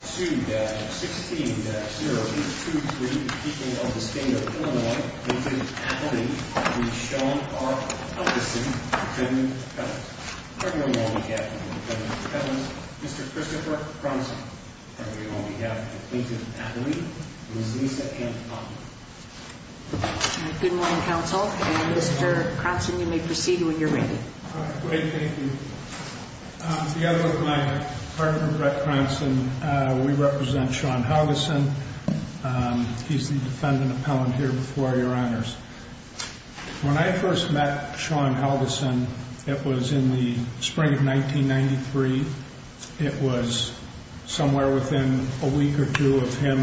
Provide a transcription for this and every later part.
16-0823, people of the state of Illinois, Clinton, Atherley, Henry, Shaw, R. Helgesen, Lieutenant Colonel, Cardinal Wally Gatlin, Lieutenant Colonel, Mr. Christopher Cronson. On behalf of Clinton, Atherley, Ms. Lisa Ann Potter. Good morning, Counsel, and Mr. Cronson, you may proceed when you're ready. Thank you. On behalf of my partner, Brett Cronson, we represent Sean Helgesen. He's the defendant appellant here before your honors. When I first met Sean Helgesen, it was in the spring of 1993. It was somewhere within a week or two of him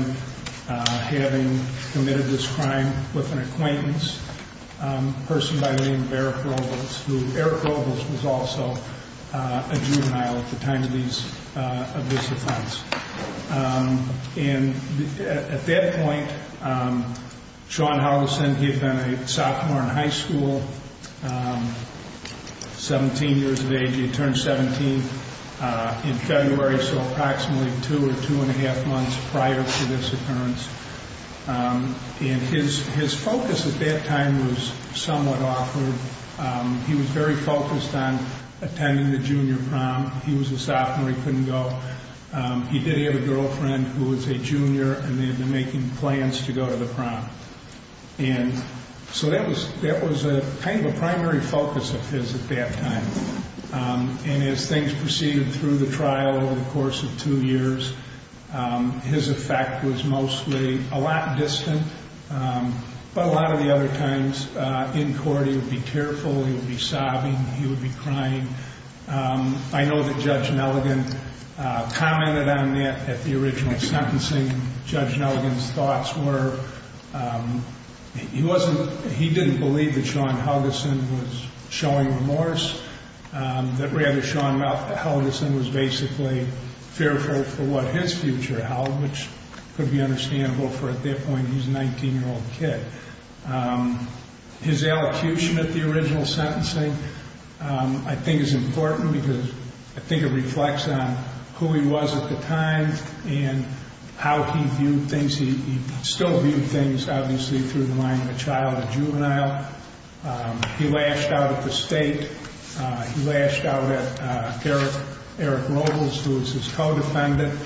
having committed this crime with an acquaintance, a person by the name of Eric Robles, who Eric Robles was also a juvenile at the time of this offense. And at that point, Sean Helgesen, he had been a sophomore in high school, 17 years of age. He had turned 17 in February, so approximately two or two and a half months prior to this occurrence. And his focus at that time was somewhat awkward. He was very focused on attending the junior prom. He was a sophomore, he couldn't go. He did have a girlfriend who was a junior and they had been making plans to go to the prom. And so that was kind of a primary focus of his at that time. And as things proceeded through the trial over the course of two years, his effect was mostly a lot distant. But a lot of the other times in court he would be careful, he would be sobbing, he would be crying. I know that Judge Nelligan commented on that at the original sentencing. Judge Nelligan's thoughts were he didn't believe that Sean Helgesen was showing remorse, that rather Sean Helgesen was basically fearful for what his future held, which could be understandable for at that point he was a 19-year-old kid. His allocution at the original sentencing I think is important because I think it reflects on who he was at the time and how he viewed things. He still viewed things obviously through the mind of a child, a juvenile. He lashed out at the state. He lashed out at Eric Robles, who was his co-defendant.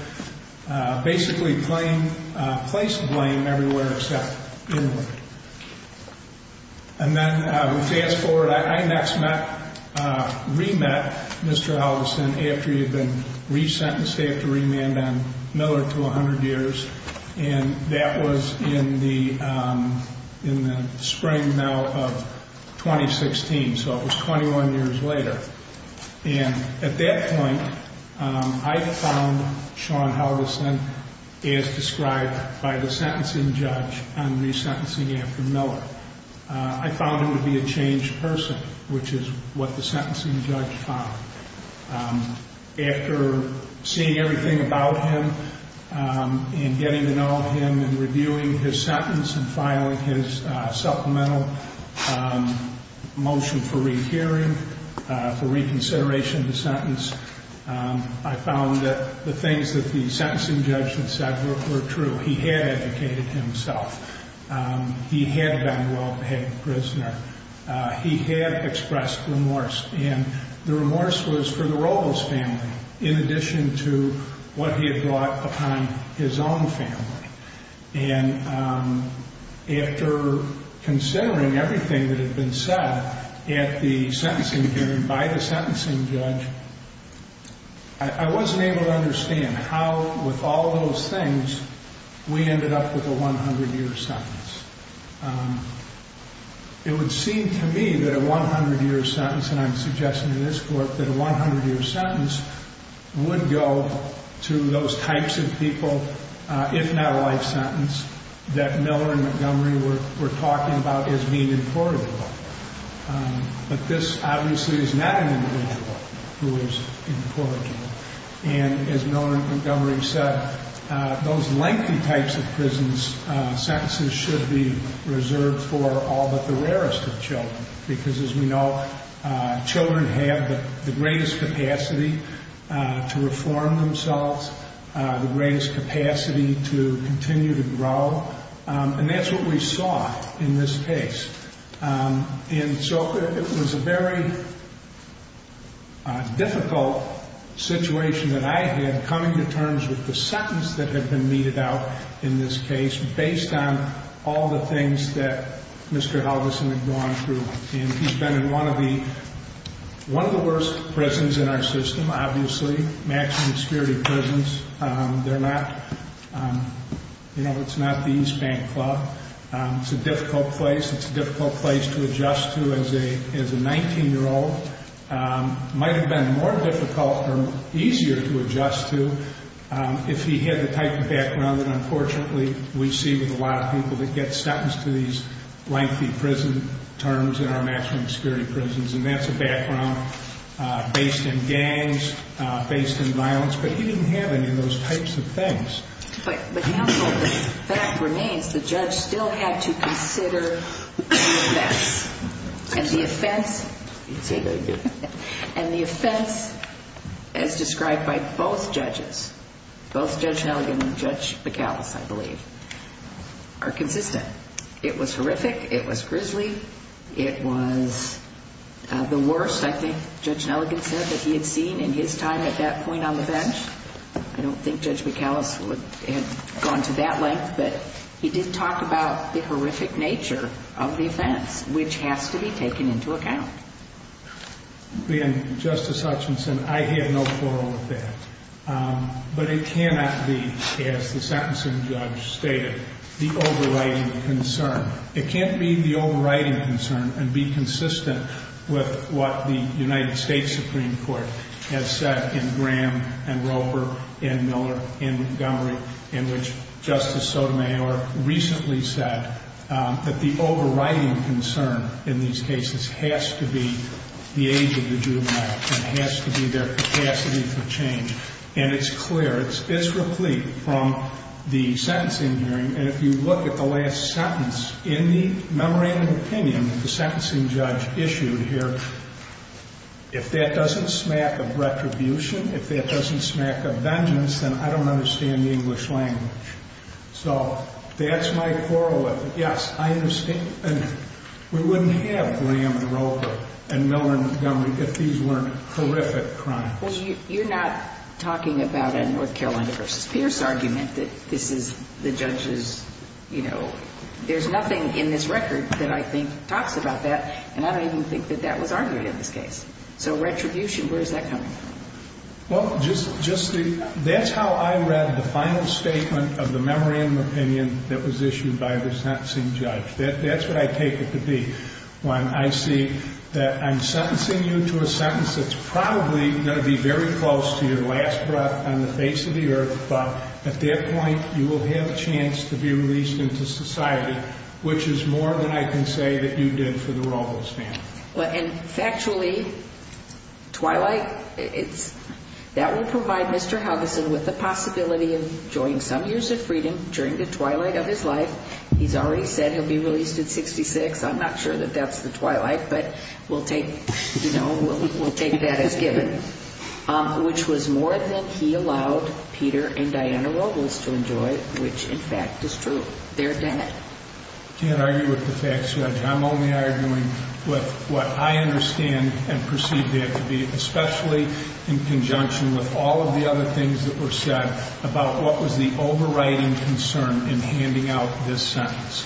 Basically placed blame everywhere except inward. And then we fast forward. I next met, re-met Mr. Helgesen after he had been resentenced after remand on Miller to 100 years. And that was in the spring now of 2016, so it was 21 years later. And at that point I found Sean Helgesen as described by the sentencing judge on resentencing after Miller. I found him to be a changed person, which is what the sentencing judge found. After seeing everything about him and getting to know him and reviewing his sentence and filing his supplemental motion for rehearing, for reconsideration of the sentence, I found that the things that the sentencing judge had said were true. He had educated himself. He had been a well-behaved prisoner. He had expressed remorse, and the remorse was for the Robles family in addition to what he had brought upon his own family. And after considering everything that had been said at the sentencing hearing by the sentencing judge, I wasn't able to understand how, with all those things, we ended up with a 100-year sentence. It would seem to me that a 100-year sentence, and I'm suggesting to this court, that a 100-year sentence would go to those types of people, if not a life sentence, that Miller and Montgomery were talking about as being implorable. But this obviously is not an individual who is implorable. And as Miller and Montgomery said, those lengthy types of sentences should be reserved for all but the rarest of children because, as we know, children have the greatest capacity to reform themselves, the greatest capacity to continue to grow, and that's what we saw in this case. And so it was a very difficult situation that I had coming to terms with the sentence that had been meted out in this case based on all the things that Mr. Halverson had gone through. And he's been in one of the worst prisons in our system, obviously, maximum security prisons. They're not, you know, it's not the East Bank Club. It's a difficult place. It's a difficult place to adjust to as a 19-year-old. It might have been more difficult or easier to adjust to if he had the type of background that, unfortunately, we see with a lot of people that get sentenced to these lengthy prison terms in our maximum security prisons. And that's a background based in gangs, based in violence. But he didn't have any of those types of things. But, counsel, the fact remains the judge still had to consider the offense. And the offense, as described by both judges, both Judge Nelligan and Judge McAllis, I believe, are consistent. It was horrific. It was grisly. It was the worst, I think, Judge Nelligan said that he had seen in his time at that point on the bench. I don't think Judge McAllis would have gone to that length. But he did talk about the horrific nature of the offense, which has to be taken into account. And, Justice Hutchinson, I have no quarrel with that. But it cannot be, as the sentencing judge stated, the overriding concern. It can't be the overriding concern and be consistent with what the United States Supreme Court has said in Graham and Roper and Miller and Montgomery, in which Justice Sotomayor recently said that the overriding concern in these cases has to be the age of the juvenile. It has to be their capacity for change. And it's clear, it's replete from the sentencing hearing. And if you look at the last sentence in the memorandum of opinion that the sentencing judge issued here, if that doesn't smack of retribution, if that doesn't smack of vengeance, then I don't understand the English language. So that's my quarrel with it. Yes, I understand, and we wouldn't have Graham and Roper and Miller and Montgomery if these weren't horrific crimes. Well, you're not talking about a North Carolina v. Pierce argument that this is the judge's, you know, there's nothing in this record that I think talks about that. And I don't even think that that was argued in this case. So retribution, where is that coming from? Well, that's how I read the final statement of the memorandum of opinion that was issued by the sentencing judge. That's what I take it to be. When I see that I'm sentencing you to a sentence that's probably going to be very close to your last breath on the face of the earth, at that point you will have a chance to be released into society, which is more than I can say that you did for the Robles family. And factually, Twilight, that will provide Mr. Hugginson with the possibility of enjoying some years of freedom during the twilight of his life. He's already said he'll be released at 66. I'm not sure that that's the twilight, but we'll take, you know, we'll take that as given, which was more than he allowed Peter and Diana Robles to enjoy, which in fact is true. They're dead. I can't argue with the facts, Judge. I'm only arguing with what I understand and perceive that to be, especially in conjunction with all of the other things that were said about what was the overriding concern in handing out this sentence.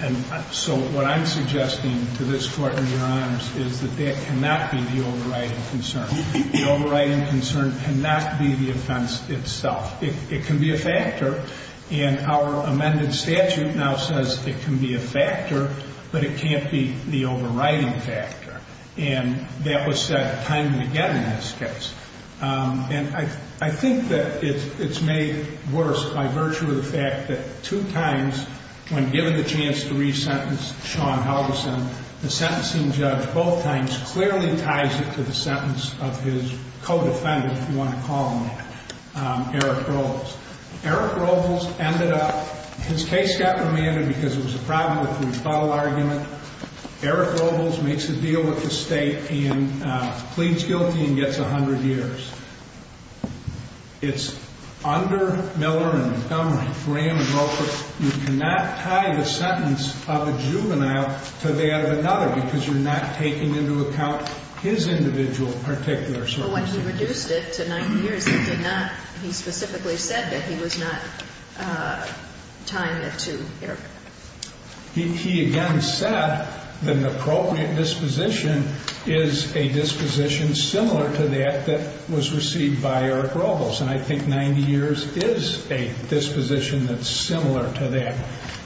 And so what I'm suggesting to this court and your honors is that that cannot be the overriding concern. The overriding concern cannot be the offense itself. It can be a factor. And our amended statute now says it can be a factor, but it can't be the overriding factor. And that was said time and again in this case. And I think that it's made worse by virtue of the fact that two times when given the chance to re-sentence Sean Helgeson, the sentencing judge both times clearly ties it to the sentence of his co-defendant, if you want to call him that, Eric Robles. Eric Robles ended up, his case got remanded because it was a problem with the rebuttal argument. Eric Robles makes a deal with the state and pleads guilty and gets 100 years. It's under Miller and Montgomery, Graham and Roper, you cannot tie the sentence of a juvenile to that of another because you're not taking into account his individual particular circumstances. But when he reduced it to 90 years, he did not, he specifically said that he was not tying it to Eric. He again said that an appropriate disposition is a disposition similar to that that was received by Eric Robles. And I think 90 years is a disposition that's similar to that.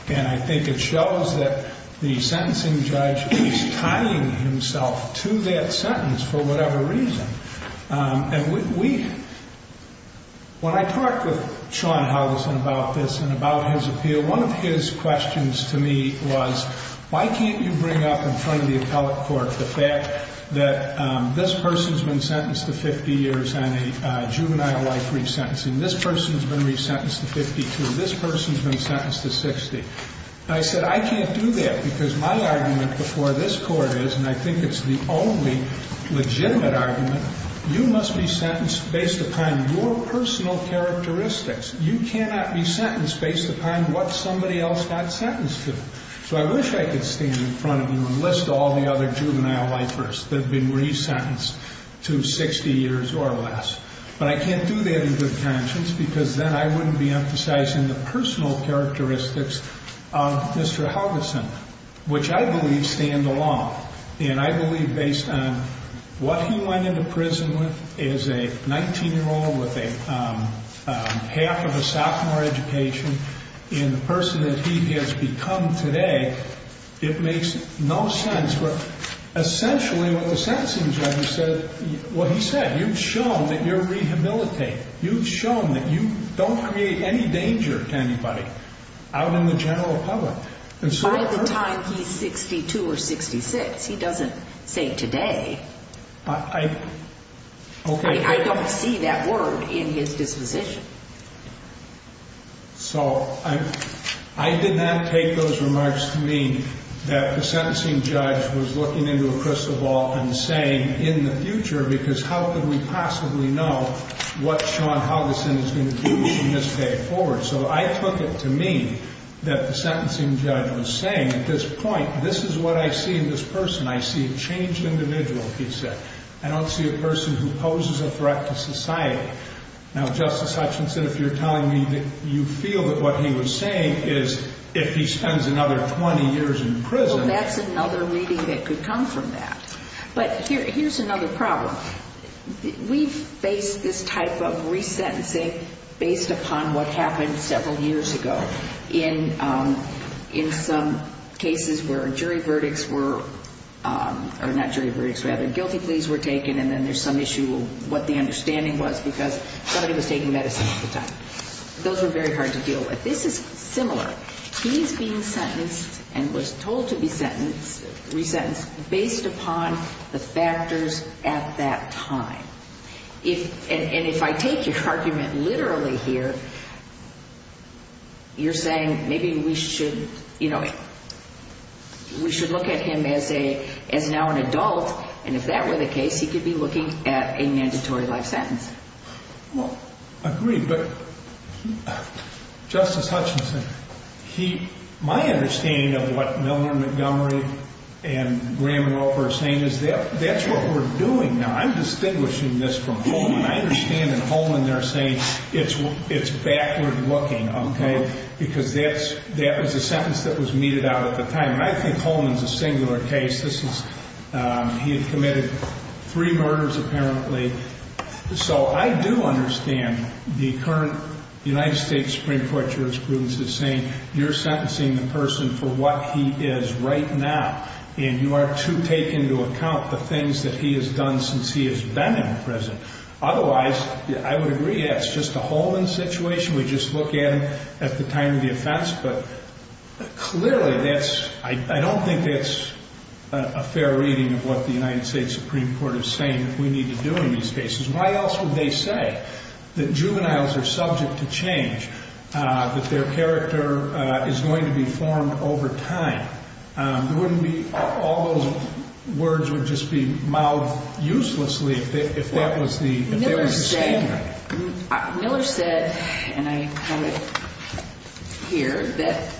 And I think it shows that the sentencing judge is tying himself to that sentence for whatever reason. And we, when I talked with Sean Helgeson about this and about his appeal, one of his questions to me was why can't you bring up in front of the appellate court the fact that this person's been sentenced to 50 years on a juvenile life re-sentencing, this person's been re-sentenced to 52, this person's been sentenced to 60. And I said I can't do that because my argument before this court is, and I think it's the only legitimate argument, you must be sentenced based upon your personal characteristics. You cannot be sentenced based upon what somebody else got sentenced to. So I wish I could stand in front of you and list all the other juvenile lifers that have been re-sentenced to 60 years or less. But I can't do that in good conscience because then I wouldn't be emphasizing the personal characteristics of Mr. Helgeson, which I believe stand alone. And I believe based on what he went into prison with as a 19-year-old with half of a sophomore education, and the person that he has become today, it makes no sense. Essentially what the sentencing judge said, well, he said, you've shown that you're rehabilitated. You've shown that you don't create any danger to anybody out in the general public. By the time he's 62 or 66, he doesn't say today. I don't see that word in his disposition. So I did not take those remarks to mean that the sentencing judge was looking into a crystal ball and saying, in the future, because how could we possibly know what Sean Helgeson is going to do from this day forward? So I took it to mean that the sentencing judge was saying at this point, this is what I see in this person. I see a changed individual, he said. I don't see a person who poses a threat to society. Now, Justice Hutchinson, if you're telling me that you feel that what he was saying is if he spends another 20 years in prison. Well, that's another reading that could come from that. But here's another problem. We've faced this type of resentencing based upon what happened several years ago. In some cases where jury verdicts were, or not jury verdicts, rather guilty pleas were taken, and then there's some issue of what the understanding was because somebody was taking medicine at the time. Those were very hard to deal with. This is similar. He's being sentenced and was told to be sentenced, resentenced, based upon the factors at that time. And if I take your argument literally here, you're saying maybe we should, you know, we should look at him as now an adult, and if that were the case, he could be looking at a mandatory life sentence. Well, I agree, but Justice Hutchinson, my understanding of what Milner, Montgomery, and Graham and Roper are saying is that that's what we're doing now. I'm distinguishing this from Holman. I understand that Holman, they're saying it's backward looking, okay, because that was a sentence that was meted out at the time. And I think Holman's a singular case. He had committed three murders apparently. So I do understand the current United States Supreme Court jurisprudence is saying you're sentencing the person for what he is right now, and you are to take into account the things that he has done since he has been in prison. Otherwise, I would agree that's just a Holman situation. at the time of the offense, but clearly I don't think that's a fair reading of what the United States Supreme Court is saying that we need to do in these cases. Why else would they say that juveniles are subject to change, that their character is going to be formed over time? All those words would just be mouthed uselessly if that was the statement. Miller said, and I have it here, that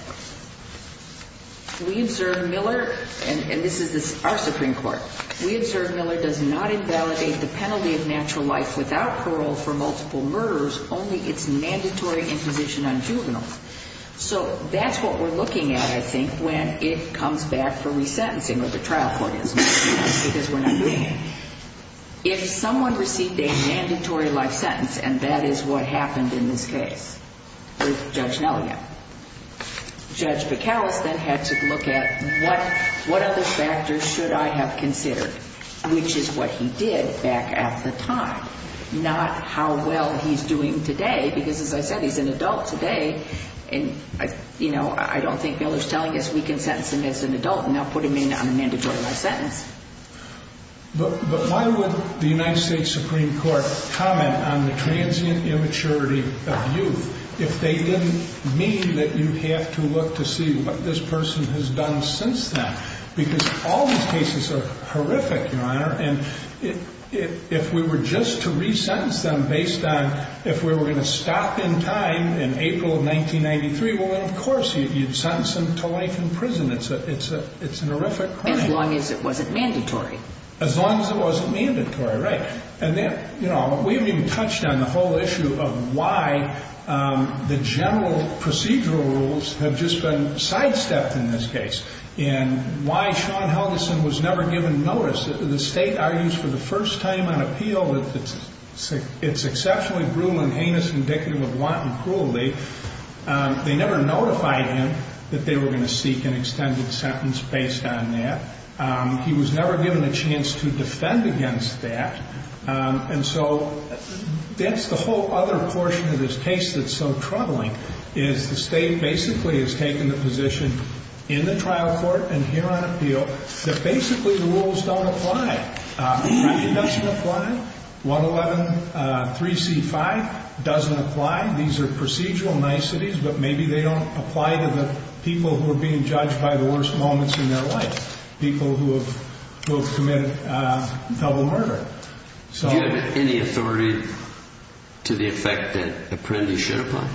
we observe Miller, and this is our Supreme Court, we observe Miller does not invalidate the penalty of natural life without parole for multiple murders, only its mandatory imposition on juveniles. So that's what we're looking at, I think, when it comes back for resentencing, or the trial court is, because we're not doing it. If someone received a mandatory life sentence, and that is what happened in this case with Judge Nelia, Judge McCallis then had to look at what other factors should I have considered, which is what he did back at the time, not how well he's doing today, because as I said, he's an adult today, and I don't think Miller's telling us we can sentence him as an adult and not put him in on a mandatory life sentence. But why would the United States Supreme Court comment on the transient immaturity of youth if they didn't mean that you have to look to see what this person has done since then? Because all these cases are horrific, Your Honor, and if we were just to resentence them based on if we were going to stop in time in April of 1993, well, of course, you'd sentence them to life in prison. It's an horrific crime. As long as it wasn't mandatory. As long as it wasn't mandatory, right. And we haven't even touched on the whole issue of why the general procedural rules have just been sidestepped in this case and why Shawn Helgeson was never given notice. The state argues for the first time on appeal that it's exceptionally brutal and heinous, indicative of wanton cruelty. They never notified him that they were going to seek an extended sentence based on that. He was never given a chance to defend against that. And so that's the whole other portion of this case that's so troubling, is the state basically has taken the position in the trial court and here on appeal that basically the rules don't apply. Apprendi doesn't apply. 111-3C-5 doesn't apply. These are procedural niceties, but maybe they don't apply to the people who are being judged by the worst moments in their life. People who have committed double murder. Do you have any authority to the effect that Apprendi should apply?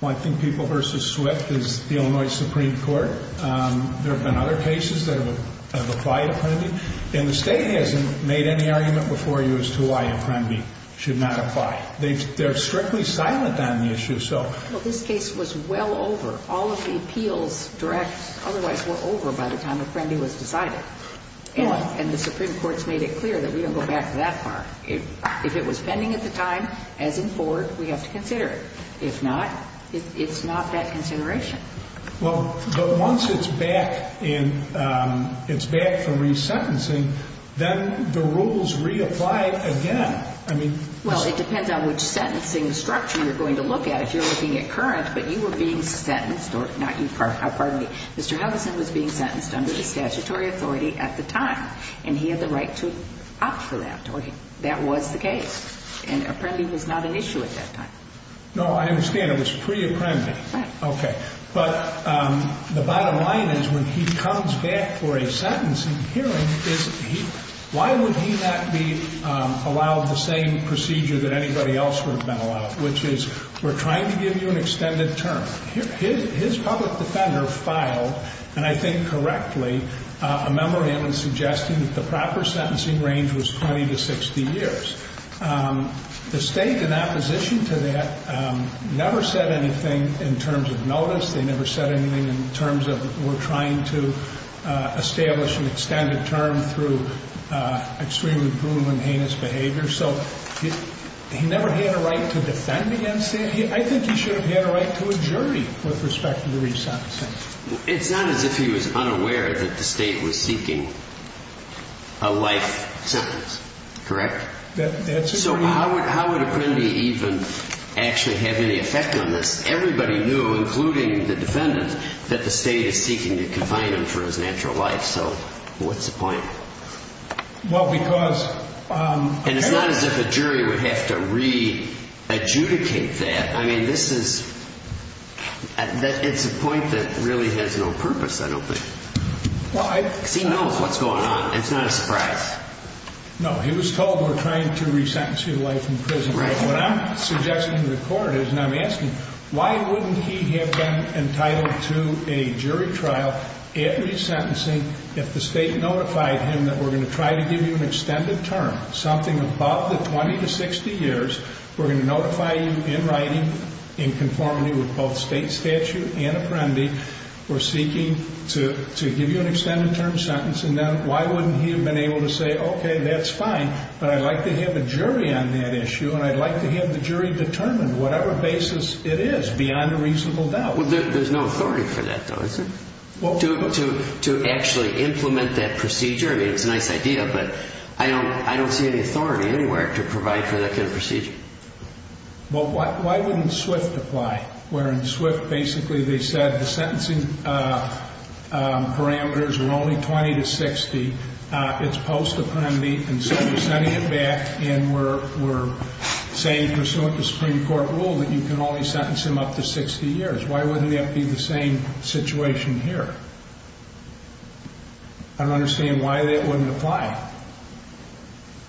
Well, I think People v. Swift is the Illinois Supreme Court. There have been other cases that have applied to Apprendi, and the state hasn't made any argument before you as to why Apprendi should not apply. They're strictly silent on the issue. Well, this case was well over. All of the appeals directs otherwise were over by the time Apprendi was decided. And the Supreme Court's made it clear that we don't go back that far. If it was pending at the time, as in Ford, we have to consider it. If not, it's not that consideration. Well, but once it's back and it's back from resentencing, then the rules reapply again. Well, it depends on which sentencing structure you're going to look at. If you're looking at current, but you were being sentenced, or not you, pardon me, Mr. Heveson was being sentenced under the statutory authority at the time, and he had the right to opt for that, or that was the case. And Apprendi was not an issue at that time. No, I understand. It was pre-Apprendi. Okay. But the bottom line is when he comes back for a sentencing hearing, why would he not be allowed the same procedure that anybody else would have been allowed, which is we're trying to give you an extended term. His public defender filed, and I think correctly, a memorandum suggesting that the proper sentencing range was 20 to 60 years. The State, in opposition to that, never said anything in terms of notice. They never said anything in terms of we're trying to establish an extended term through extremely brutal and heinous behavior. So he never had a right to defend against that. I think he should have had a right to a jury with respect to the resentencing. It's not as if he was unaware that the State was seeking a life sentence, correct? So how would Apprendi even actually have any effect on this? Everybody knew, including the defendant, that the State is seeking to confine him for his natural life. So what's the point? Well, because— And it's not as if a jury would have to re-adjudicate that. I mean, this is—it's a point that really has no purpose, I don't think. No, he was told we're trying to resentence you to life in prison. What I'm suggesting to the Court is, and I'm asking, why wouldn't he have been entitled to a jury trial at resentencing if the State notified him that we're going to try to give you an extended term, something above the 20 to 60 years, we're going to notify you in writing in conformity with both State statute and Apprendi, we're seeking to give you an extended term sentence, and then why wouldn't he have been able to say, okay, that's fine, but I'd like to have a jury on that issue, and I'd like to have the jury determine, whatever basis it is, beyond a reasonable doubt. Well, there's no authority for that, though, is there? To actually implement that procedure? I mean, it's a nice idea, but I don't see any authority anywhere to provide for that kind of procedure. Well, why wouldn't SWIFT apply? Where in SWIFT, basically, they said the sentencing parameters were only 20 to 60, it's post-Apprendi, and so we're sending him back, and we're saying, pursuant to Supreme Court rule, that you can only sentence him up to 60 years. Why wouldn't that be the same situation here? I don't understand why that wouldn't apply.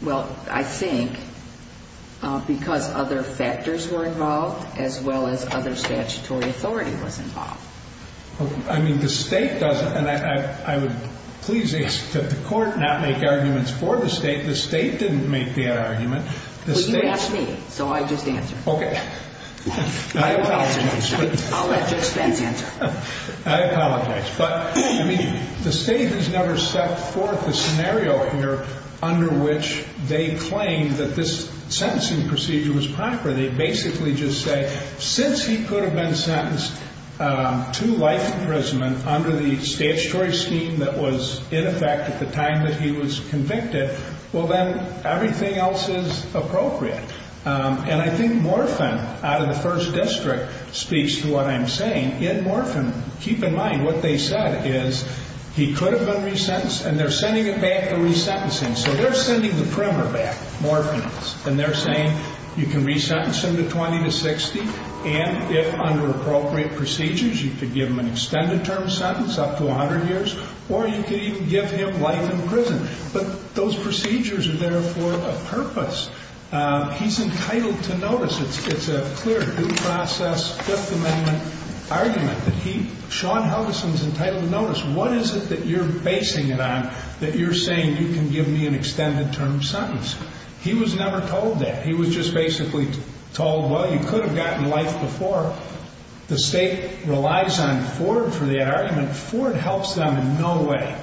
Well, I think because other factors were involved, as well as other statutory authority was involved. I mean, the state doesn't, and I would please ask that the court not make arguments for the state. The state didn't make the argument. Well, you asked me, so I just answered. Okay. I'll let your expense answer. I apologize. But, I mean, the state has never set forth a scenario here under which they claim that this sentencing procedure was proper. They basically just say, since he could have been sentenced to life imprisonment under the statutory scheme that was in effect at the time that he was convicted, well, then everything else is appropriate. And I think Morphin, out of the First District, speaks to what I'm saying. In Morphin, keep in mind what they said is he could have been resentenced, and they're sending him back for resentencing. So they're sending the primer back, Morphin is, and they're saying you can resentence him to 20 to 60, and if under appropriate procedures you could give him an extended term sentence, up to 100 years, or you could even give him life in prison. But those procedures are there for a purpose. He's entitled to notice. It's a clear due process Fifth Amendment argument that he, Sean Helgeson, is entitled to notice. What is it that you're basing it on that you're saying you can give me an extended term sentence? He was never told that. He was just basically told, well, you could have gotten life before. The state relies on Ford for that argument. And Ford helps them in no way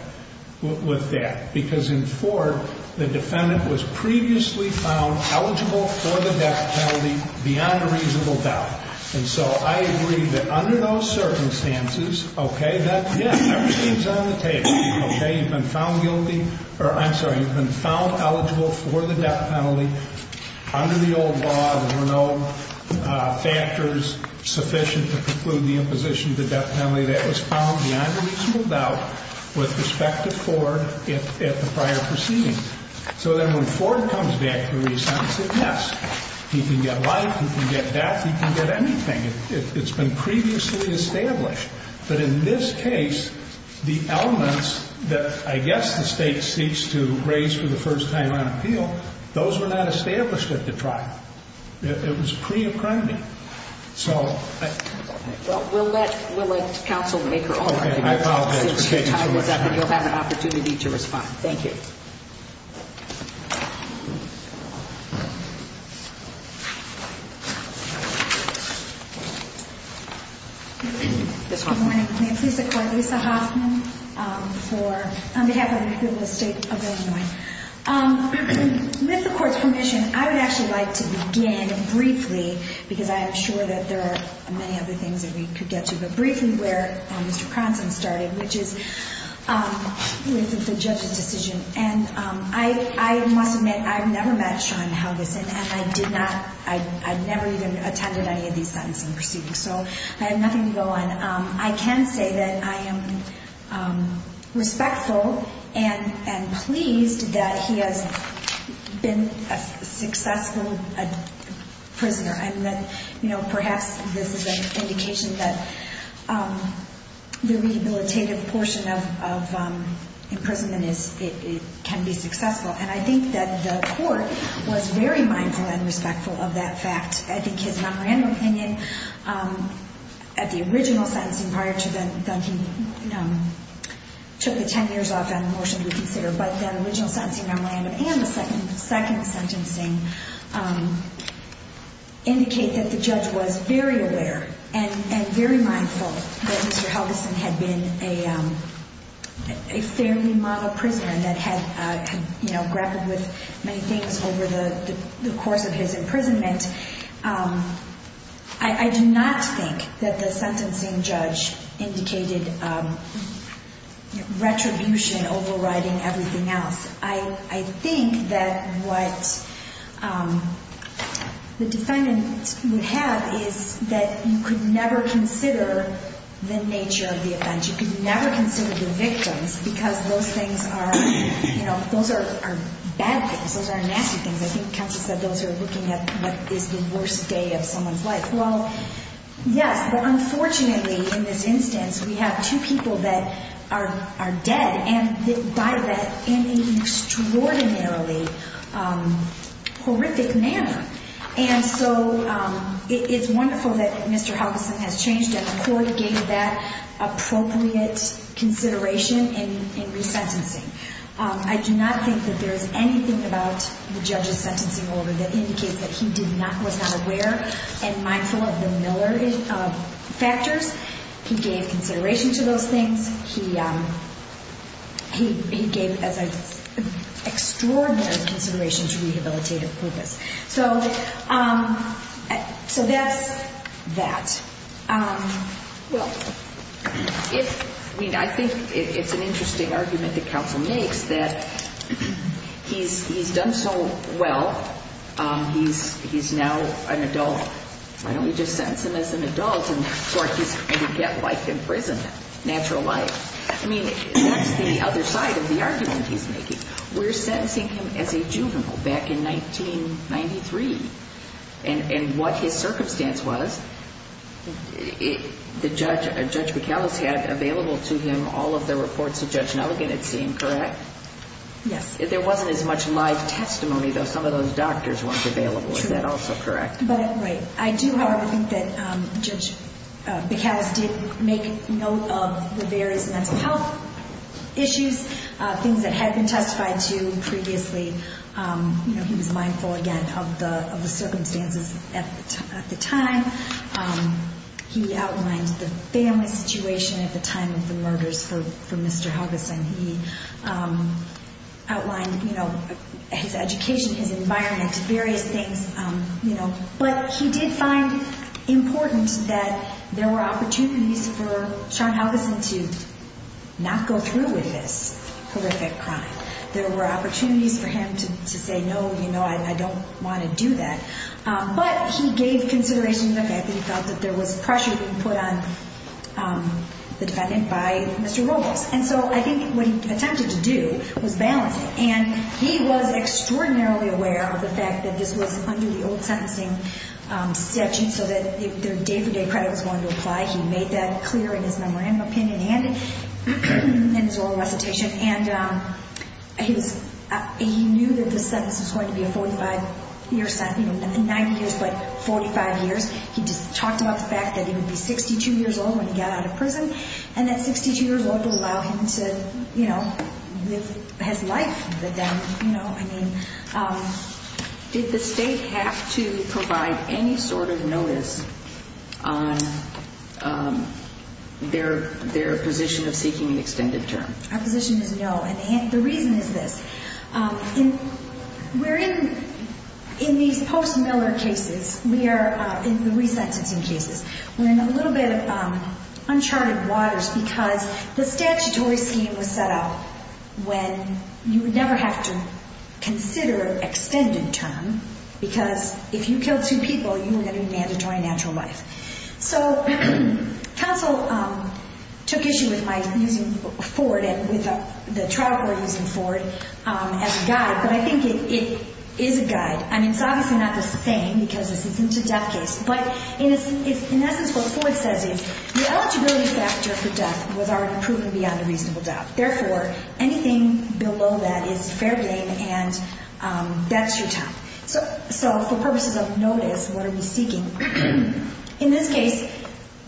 with that, because in Ford, the defendant was previously found eligible for the death penalty beyond a reasonable doubt. And so I agree that under those circumstances, okay, that, yeah, everything's on the table. Okay, you've been found guilty, or I'm sorry, you've been found eligible for the death penalty. Under the old law, there were no factors sufficient to preclude the imposition of the death penalty. That was found beyond a reasonable doubt with respect to Ford at the prior proceedings. So then when Ford comes back to re-sentence it, yes, he can get life, he can get death, he can get anything. It's been previously established. But in this case, the elements that I guess the state seeks to raise for the first time on appeal, those were not established at the trial. It was pre-apprending. So I... Well, we'll let counsel make her own argument. Okay, I apologize for taking so long. Since your time is up, you'll have an opportunity to respond. Thank you. Good morning. May it please the Court, Lisa Hoffman on behalf of the people of the State of Illinois. With the Court's permission, I would actually like to begin briefly, because I am sure that there are many other things that we could get to, but briefly where Mr. Cronson started, which is with the judge's decision. And I must admit, I've never met Sean Helgeson, and I did not, I never even attended any of these sentencing proceedings. So I have nothing to go on. I can say that I am respectful and pleased that he has been a successful prisoner. And that, you know, perhaps this is an indication that the rehabilitative portion of imprisonment can be successful. And I think that the Court was very mindful and respectful of that fact. I think his memorandum opinion at the original sentencing prior to then he took the 10 years off on a motion to reconsider. But that original sentencing memorandum and the second sentencing indicate that the judge was very aware and very mindful that Mr. Helgeson had been a fairly model prisoner that had, you know, grappled with many things over the course of his imprisonment. I do not think that the sentencing judge indicated retribution, overriding everything else. I think that what the defendant would have is that you could never consider the nature of the offense. You could never consider the victims because those things are, you know, those are bad things. Those are nasty things. I think Counsel said those are looking at what is the worst day of someone's life. Well, yes, but unfortunately in this instance we have two people that are dead and died in an extraordinarily horrific manner. And so it's wonderful that Mr. Helgeson has changed and the Court gave that appropriate consideration in resentencing. I do not think that there is anything about the judge's sentencing order that indicates that he was not aware and mindful of the Miller factors. He gave consideration to those things. He gave an extraordinary consideration to rehabilitative purpose. So that's that. I mean, I think it's an interesting argument that Counsel makes that he's done so well. He's now an adult. Why don't we just sentence him as an adult and get life in prison, natural life? I mean, that's the other side of the argument he's making. We're sentencing him as a juvenile back in 1993. And what his circumstance was, Judge Bacalus had available to him all of the reports that Judge Nugent had seen, correct? Yes. There wasn't as much live testimony, though. Some of those doctors weren't available. Is that also correct? Right. I do, however, think that Judge Bacalus did make note of the various mental health issues, things that had been testified to previously. He was mindful, again, of the circumstances at the time. He outlined the family situation at the time of the murders for Mr. Hargison. He outlined his education, his environment, various things. But he did find important that there were opportunities for Sean Hargison to not go through with this horrific crime. There were opportunities for him to say, no, I don't want to do that. But he gave consideration to the fact that he felt that there was pressure being put on the defendant by Mr. Robles. And so I think what he attempted to do was balance it. And he was extraordinarily aware of the fact that this was under the old sentencing statute so that their day-for-day credit was going to apply. He made that clear in his memorandum opinion and in his oral recitation. And he knew that this sentence was going to be a 45-year sentence, not 90 years, but 45 years. He just talked about the fact that he would be 62 years old when he got out of prison and that 62 years old would allow him to, you know, live his life with them, you know. I mean, did the state have to provide any sort of notice on their position of seeking an extended term? Our position is no. And the reason is this. We're in these post-Miller cases. We are in the resentencing cases. We're in a little bit of uncharted waters because the statutory scheme was set up when you would never have to consider extended term because if you killed two people, you were going to be mandatory natural life. So counsel took issue with my using Ford and with the trial court using Ford as a guide. But I think it is a guide. I mean, it's obviously not the same because this isn't a death case. But in essence what Ford says is the eligibility factor for death was already proven beyond a reasonable doubt. Therefore, anything below that is fair game and that's your time. So for purposes of notice, what are we seeking? In this case,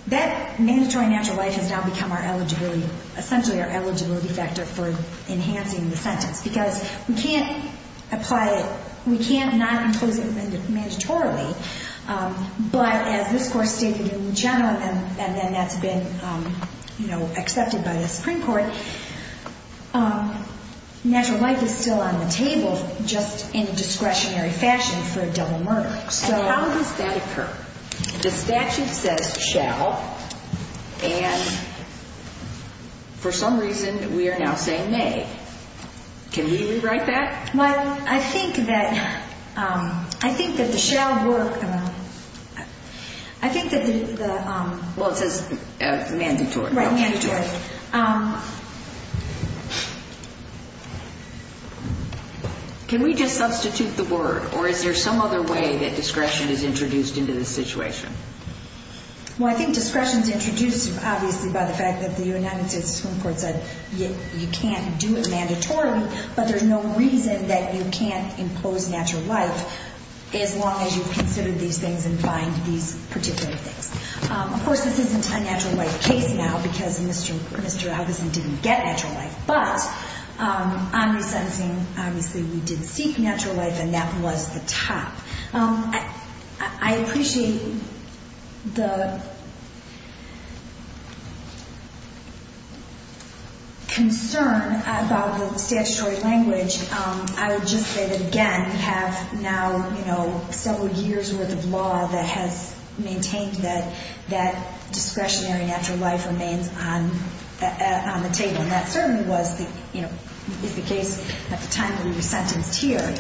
that mandatory natural life has now become our eligibility, essentially our eligibility factor for enhancing the sentence because we can't apply it. We can't not enclose it mandatorily. But as this Court stated in general and then that's been, you know, accepted by the Supreme Court, natural life is still on the table just in a discretionary fashion for a double murder. So how does that occur? The statute says shall and for some reason we are now saying may. Can we rewrite that? Well, I think that the shall work. I think that the... Well, it says mandatory. Right, mandatory. Can we just substitute the word or is there some other way that discretion is introduced into this situation? Well, I think discretion is introduced obviously by the fact that the United States Supreme Court said you can't do it mandatorily, but there's no reason that you can't enclose natural life as long as you've considered these things and find these particular things. Of course, this isn't a natural life case now because Mr. Augustine didn't get natural life, but on resentencing obviously we did seek natural life and that was the top. I appreciate the concern about the statutory language. I would just say that again we have now, you know, several years' worth of law that has maintained that discretionary natural life remains on the table, and that certainly was the case at the time that we were sentenced here.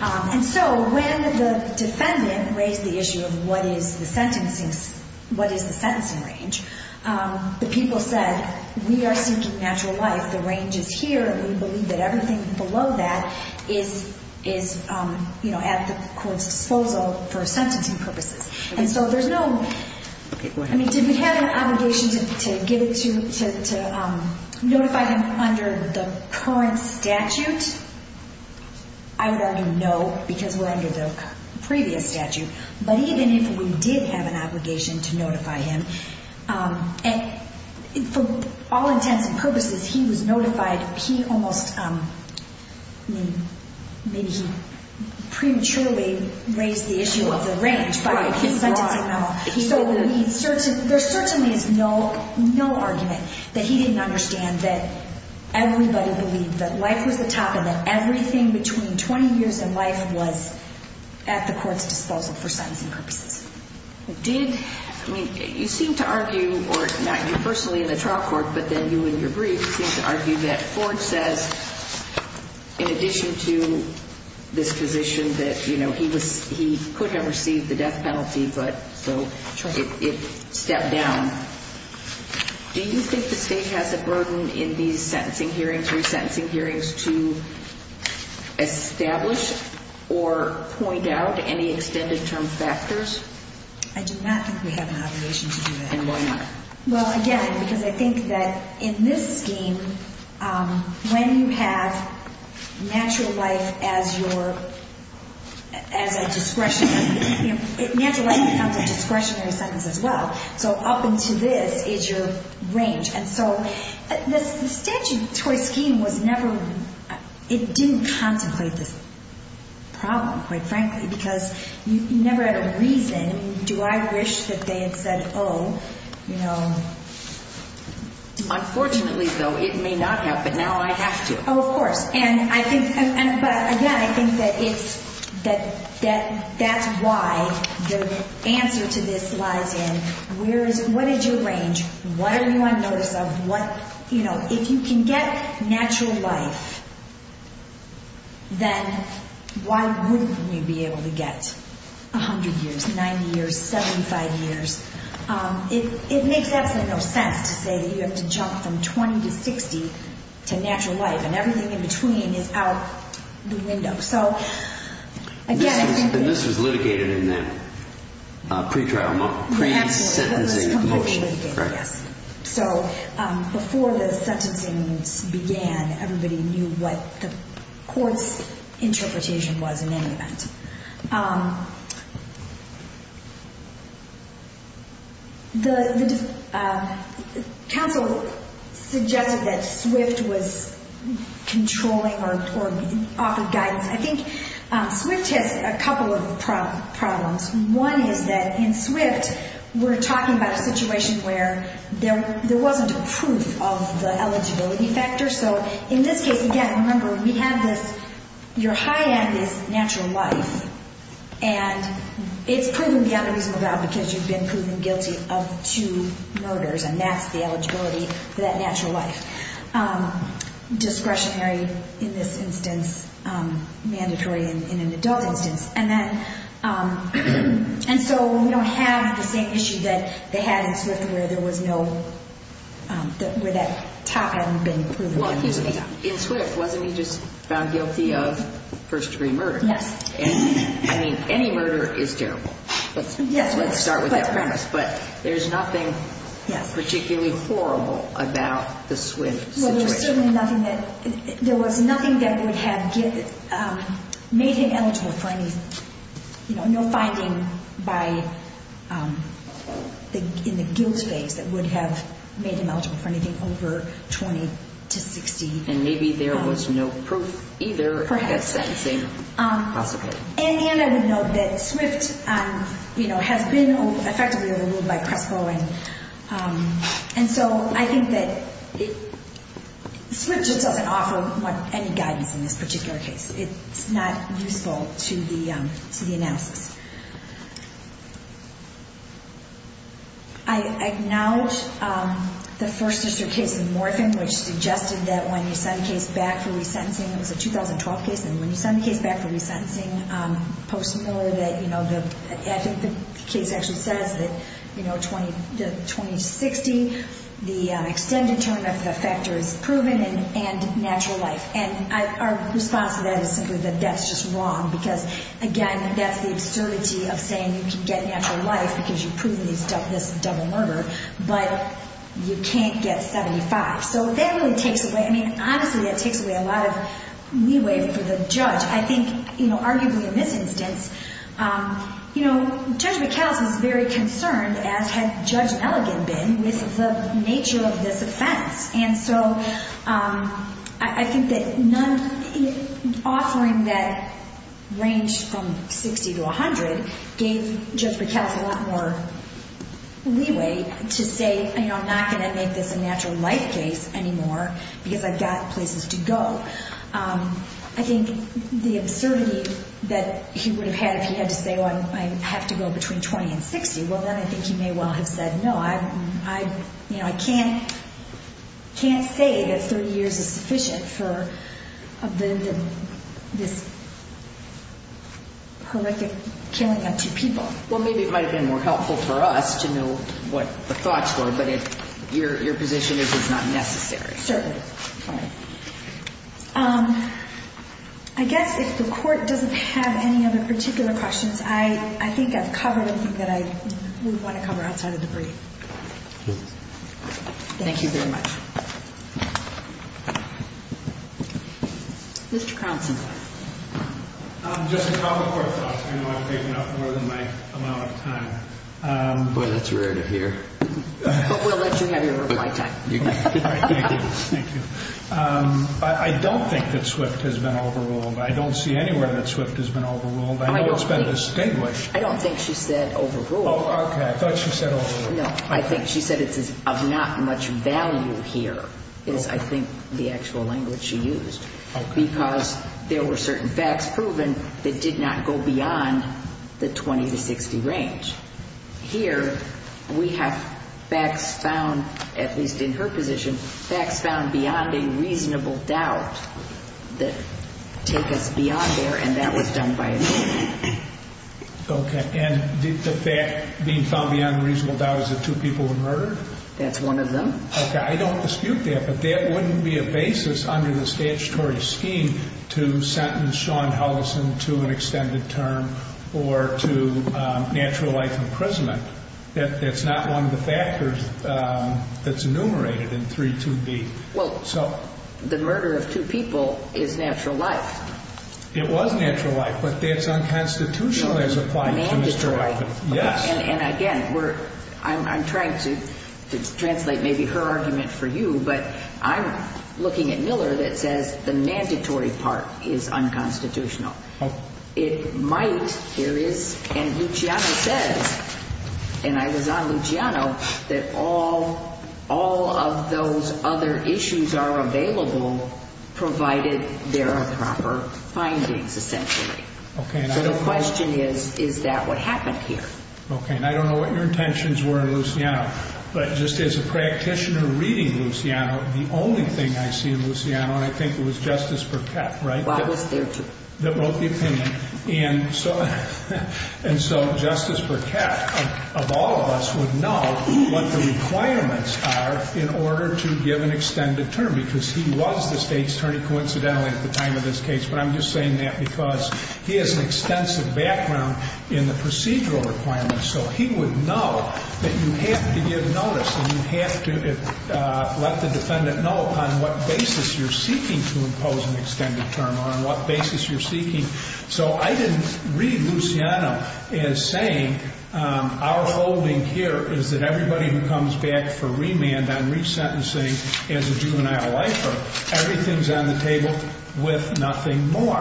And so when the defendant raised the issue of what is the sentencing range, the people said we are seeking natural life, the range is here, and we believe that everything below that is at the court's disposal for sentencing purposes. And so there's no... Okay, go ahead. I mean, did we have an obligation to notify them under the current statute? I would argue no because we're under the previous statute, but even if we did have an obligation to notify him, and for all intents and purposes he was notified, he almost, I mean, maybe he prematurely raised the issue of the range by his sentencing memo. So there certainly is no argument that he didn't understand that everybody believed that life was the top and that everything between 20 years and life was at the court's disposal for sentencing purposes. Did, I mean, you seem to argue, or not you personally in the trial court, but then you in your brief seem to argue that Ford says in addition to this position that, you know, he could have received the death penalty, but so it stepped down. Do you think the state has a burden in these sentencing hearings, resentencing hearings, to establish or point out any extended term factors? I do not think we have an obligation to do that. And why not? Well, again, because I think that in this scheme, when you have natural life as your, as a discretionary, you know, natural life becomes a discretionary sentence as well. So up into this is your range. And so the statutory scheme was never, it didn't contemplate this problem, quite frankly, because you never had a reason. Do I wish that they had said, oh, you know. Unfortunately, though, it may not have, but now I have to. Oh, of course. And I think, but again, I think that it's, that's why the answer to this lies in where is, what is your range? What are you on notice of? What, you know, if you can get natural life, then why wouldn't we be able to get 100 years, 90 years, 75 years? It makes absolutely no sense to say that you have to jump from 20 to 60 to natural life and everything in between is out the window. So again, this was litigated in the pre-trial, pre-sentencing motion. Yes. So before the sentencing began, everybody knew what the court's interpretation was in any event. The counsel suggested that SWIFT was controlling or offered guidance. I think SWIFT has a couple of problems. One is that in SWIFT, we're talking about a situation where there wasn't proof of the eligibility factor. So in this case, again, remember, we have this, you're high on this natural life, and it's proven beyond reasonable doubt because you've been proven guilty of two murders, and that's the eligibility for that natural life. Discretionary in this instance, mandatory in an adult instance. And then, and so we don't have the same issue that they had in SWIFT where there was no, where that top hadn't been proven. Well, excuse me. In SWIFT, wasn't he just found guilty of first-degree murder? Yes. I mean, any murder is terrible. Yes. Let's start with that premise. But there's nothing particularly horrible about the SWIFT situation. Well, there's certainly nothing that, there was nothing that would have made him eligible for any, you know, no finding by, in the guilt phase that would have made him eligible for anything over 20 to 60. And maybe there was no proof either. Perhaps. At sentencing, possibly. And I would note that SWIFT, you know, has been effectively overruled by CRESPO, and so I think that SWIFT just doesn't offer any guidance in this particular case. It's not useful to the analysis. I acknowledge the First District case in Morphin which suggested that when you send a case back for resentencing, it was a 2012 case, and when you send a case back for resentencing, post-mortem that, you know, I think the case actually says that, you know, 20 to 60, the extended term of the effector is proven and natural life. And our response to that is simply that that's just wrong because, again, that's the absurdity of saying you can get natural life because you've proven this double murder, but you can't get 75. So that really takes away, I mean, honestly that takes away a lot of leeway for the judge. I think, you know, arguably in this instance, you know, Judge McAllis is very concerned, as had Judge Elligan been, with the nature of this offense. And so I think that offering that range from 60 to 100 gave Judge McAllis a lot more leeway to say, you know, I'm not going to make this a natural life case anymore because I've got places to go. I think the absurdity that he would have had if he had to say, well, I have to go between 20 and 60, well, then I think he may well have said, no, you know, I can't say that 30 years is sufficient for this horrific killing of two people. Well, maybe it might have been more helpful for us to know what the thoughts were, but your position is it's not necessary. Certainly. I guess if the court doesn't have any other particular questions, I think I've covered everything that I would want to cover outside of the brief. Thank you very much. Mr. Cronson. Just a couple of court thoughts. I know I've taken up more than my amount of time. Boy, that's rare to hear. But we'll let you have your reply time. Thank you. I don't think that Swift has been overruled. I don't see anywhere that Swift has been overruled. I know it's been distinguished. I don't think she said overruled. Oh, okay. I thought she said overruled. No, I think she said it's of not much value here is, I think, the actual language she used. Okay. Because there were certain facts proven that did not go beyond the 20 to 60 range. Here we have facts found, at least in her position, facts found beyond a reasonable doubt that take us beyond there, and that was done by a jury. Okay. And the fact being found beyond a reasonable doubt is that two people were murdered? That's one of them. Okay. I don't dispute that. But that wouldn't be a basis under the statutory scheme to sentence Shawn Hullison to an extended term or to natural life imprisonment. That's not one of the factors that's enumerated in 3.2b. Well, the murder of two people is natural life. It was natural life, but that's unconstitutional as applied to Mr. Hullison. Mandatory. Yes. And, again, I'm trying to translate maybe her argument for you, but I'm looking at Miller that says the mandatory part is unconstitutional. Okay. So it might, there is, and Luciano says, and I was on Luciano, that all of those other issues are available provided there are proper findings, essentially. Okay. So the question is, is that what happened here? Okay. And I don't know what your intentions were in Luciano, but just as a practitioner reading Luciano, the only thing I see in Luciano, and I think it was Justice Burkett, right? Why was there two? That wrote the opinion. And so Justice Burkett, of all of us, would know what the requirements are in order to give an extended term, because he was the State's attorney, coincidentally, at the time of this case. But I'm just saying that because he has an extensive background in the procedural requirements, so he would know that you have to give notice and you have to let the defendant know on what basis you're seeking to impose an extended term or on what basis you're seeking. So I didn't read Luciano as saying, our holding here is that everybody who comes back for remand on resentencing as a juvenile lifer, everything's on the table with nothing more.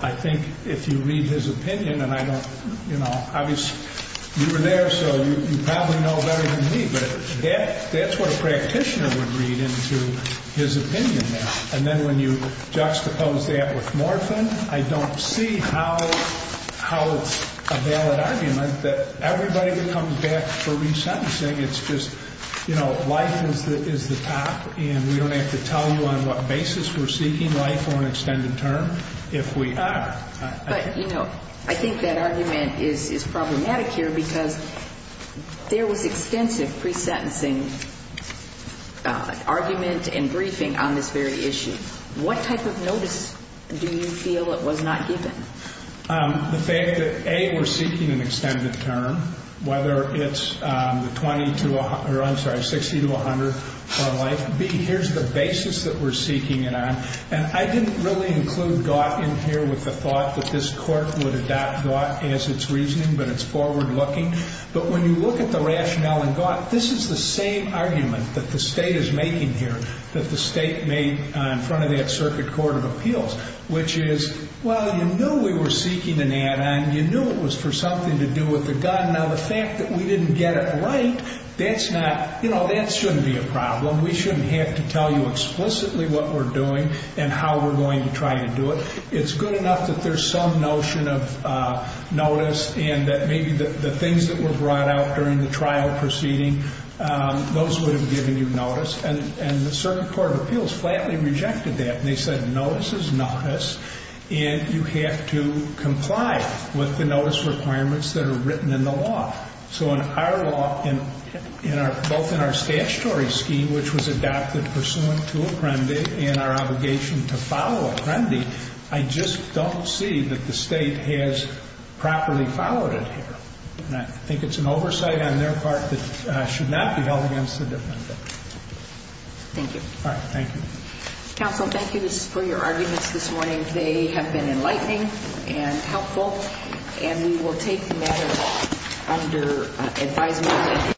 I think if you read his opinion, and I don't, you know, obviously, you were there so you probably know better than me, but that's what a practitioner would read into his opinion there. And then when you juxtapose that with morphine, I don't see how it's a valid argument that everybody who comes back for resentencing, it's just, you know, life is the top and we don't have to tell you on what basis we're seeking life or an extended term if we are. But, you know, I think that argument is problematic here because there was extensive pre-sentencing argument and briefing on this very issue. What type of notice do you feel it was not given? The fact that, A, we're seeking an extended term, whether it's the 20 to 100, or I'm sorry, 60 to 100 for life. B, here's the basis that we're seeking it on. And I didn't really include Gaut in here with the thought that this court would adopt Gaut as its reasoning, but it's forward-looking. But when you look at the rationale in Gaut, this is the same argument that the state is making here, that the state made in front of that Circuit Court of Appeals, which is, well, you knew we were seeking an add-on. You knew it was for something to do with the gun. Now, the fact that we didn't get it right, that's not, you know, that shouldn't be a problem. We shouldn't have to tell you explicitly what we're doing and how we're going to try to do it. It's good enough that there's some notion of notice and that maybe the things that were brought out during the trial proceeding, those would have given you notice. And the Circuit Court of Appeals flatly rejected that. They said notice is notice, and you have to comply with the notice requirements that are written in the law. So in our law, both in our statutory scheme, which was adopted pursuant to Apprendi and our obligation to follow Apprendi, I just don't see that the state has properly followed it here. And I think it's an oversight on their part that should not be held against the defendant. Thank you. All right. Thank you. Counsel, thank you for your arguments this morning. They have been enlightening and helpful. And we will take the matter under advisement.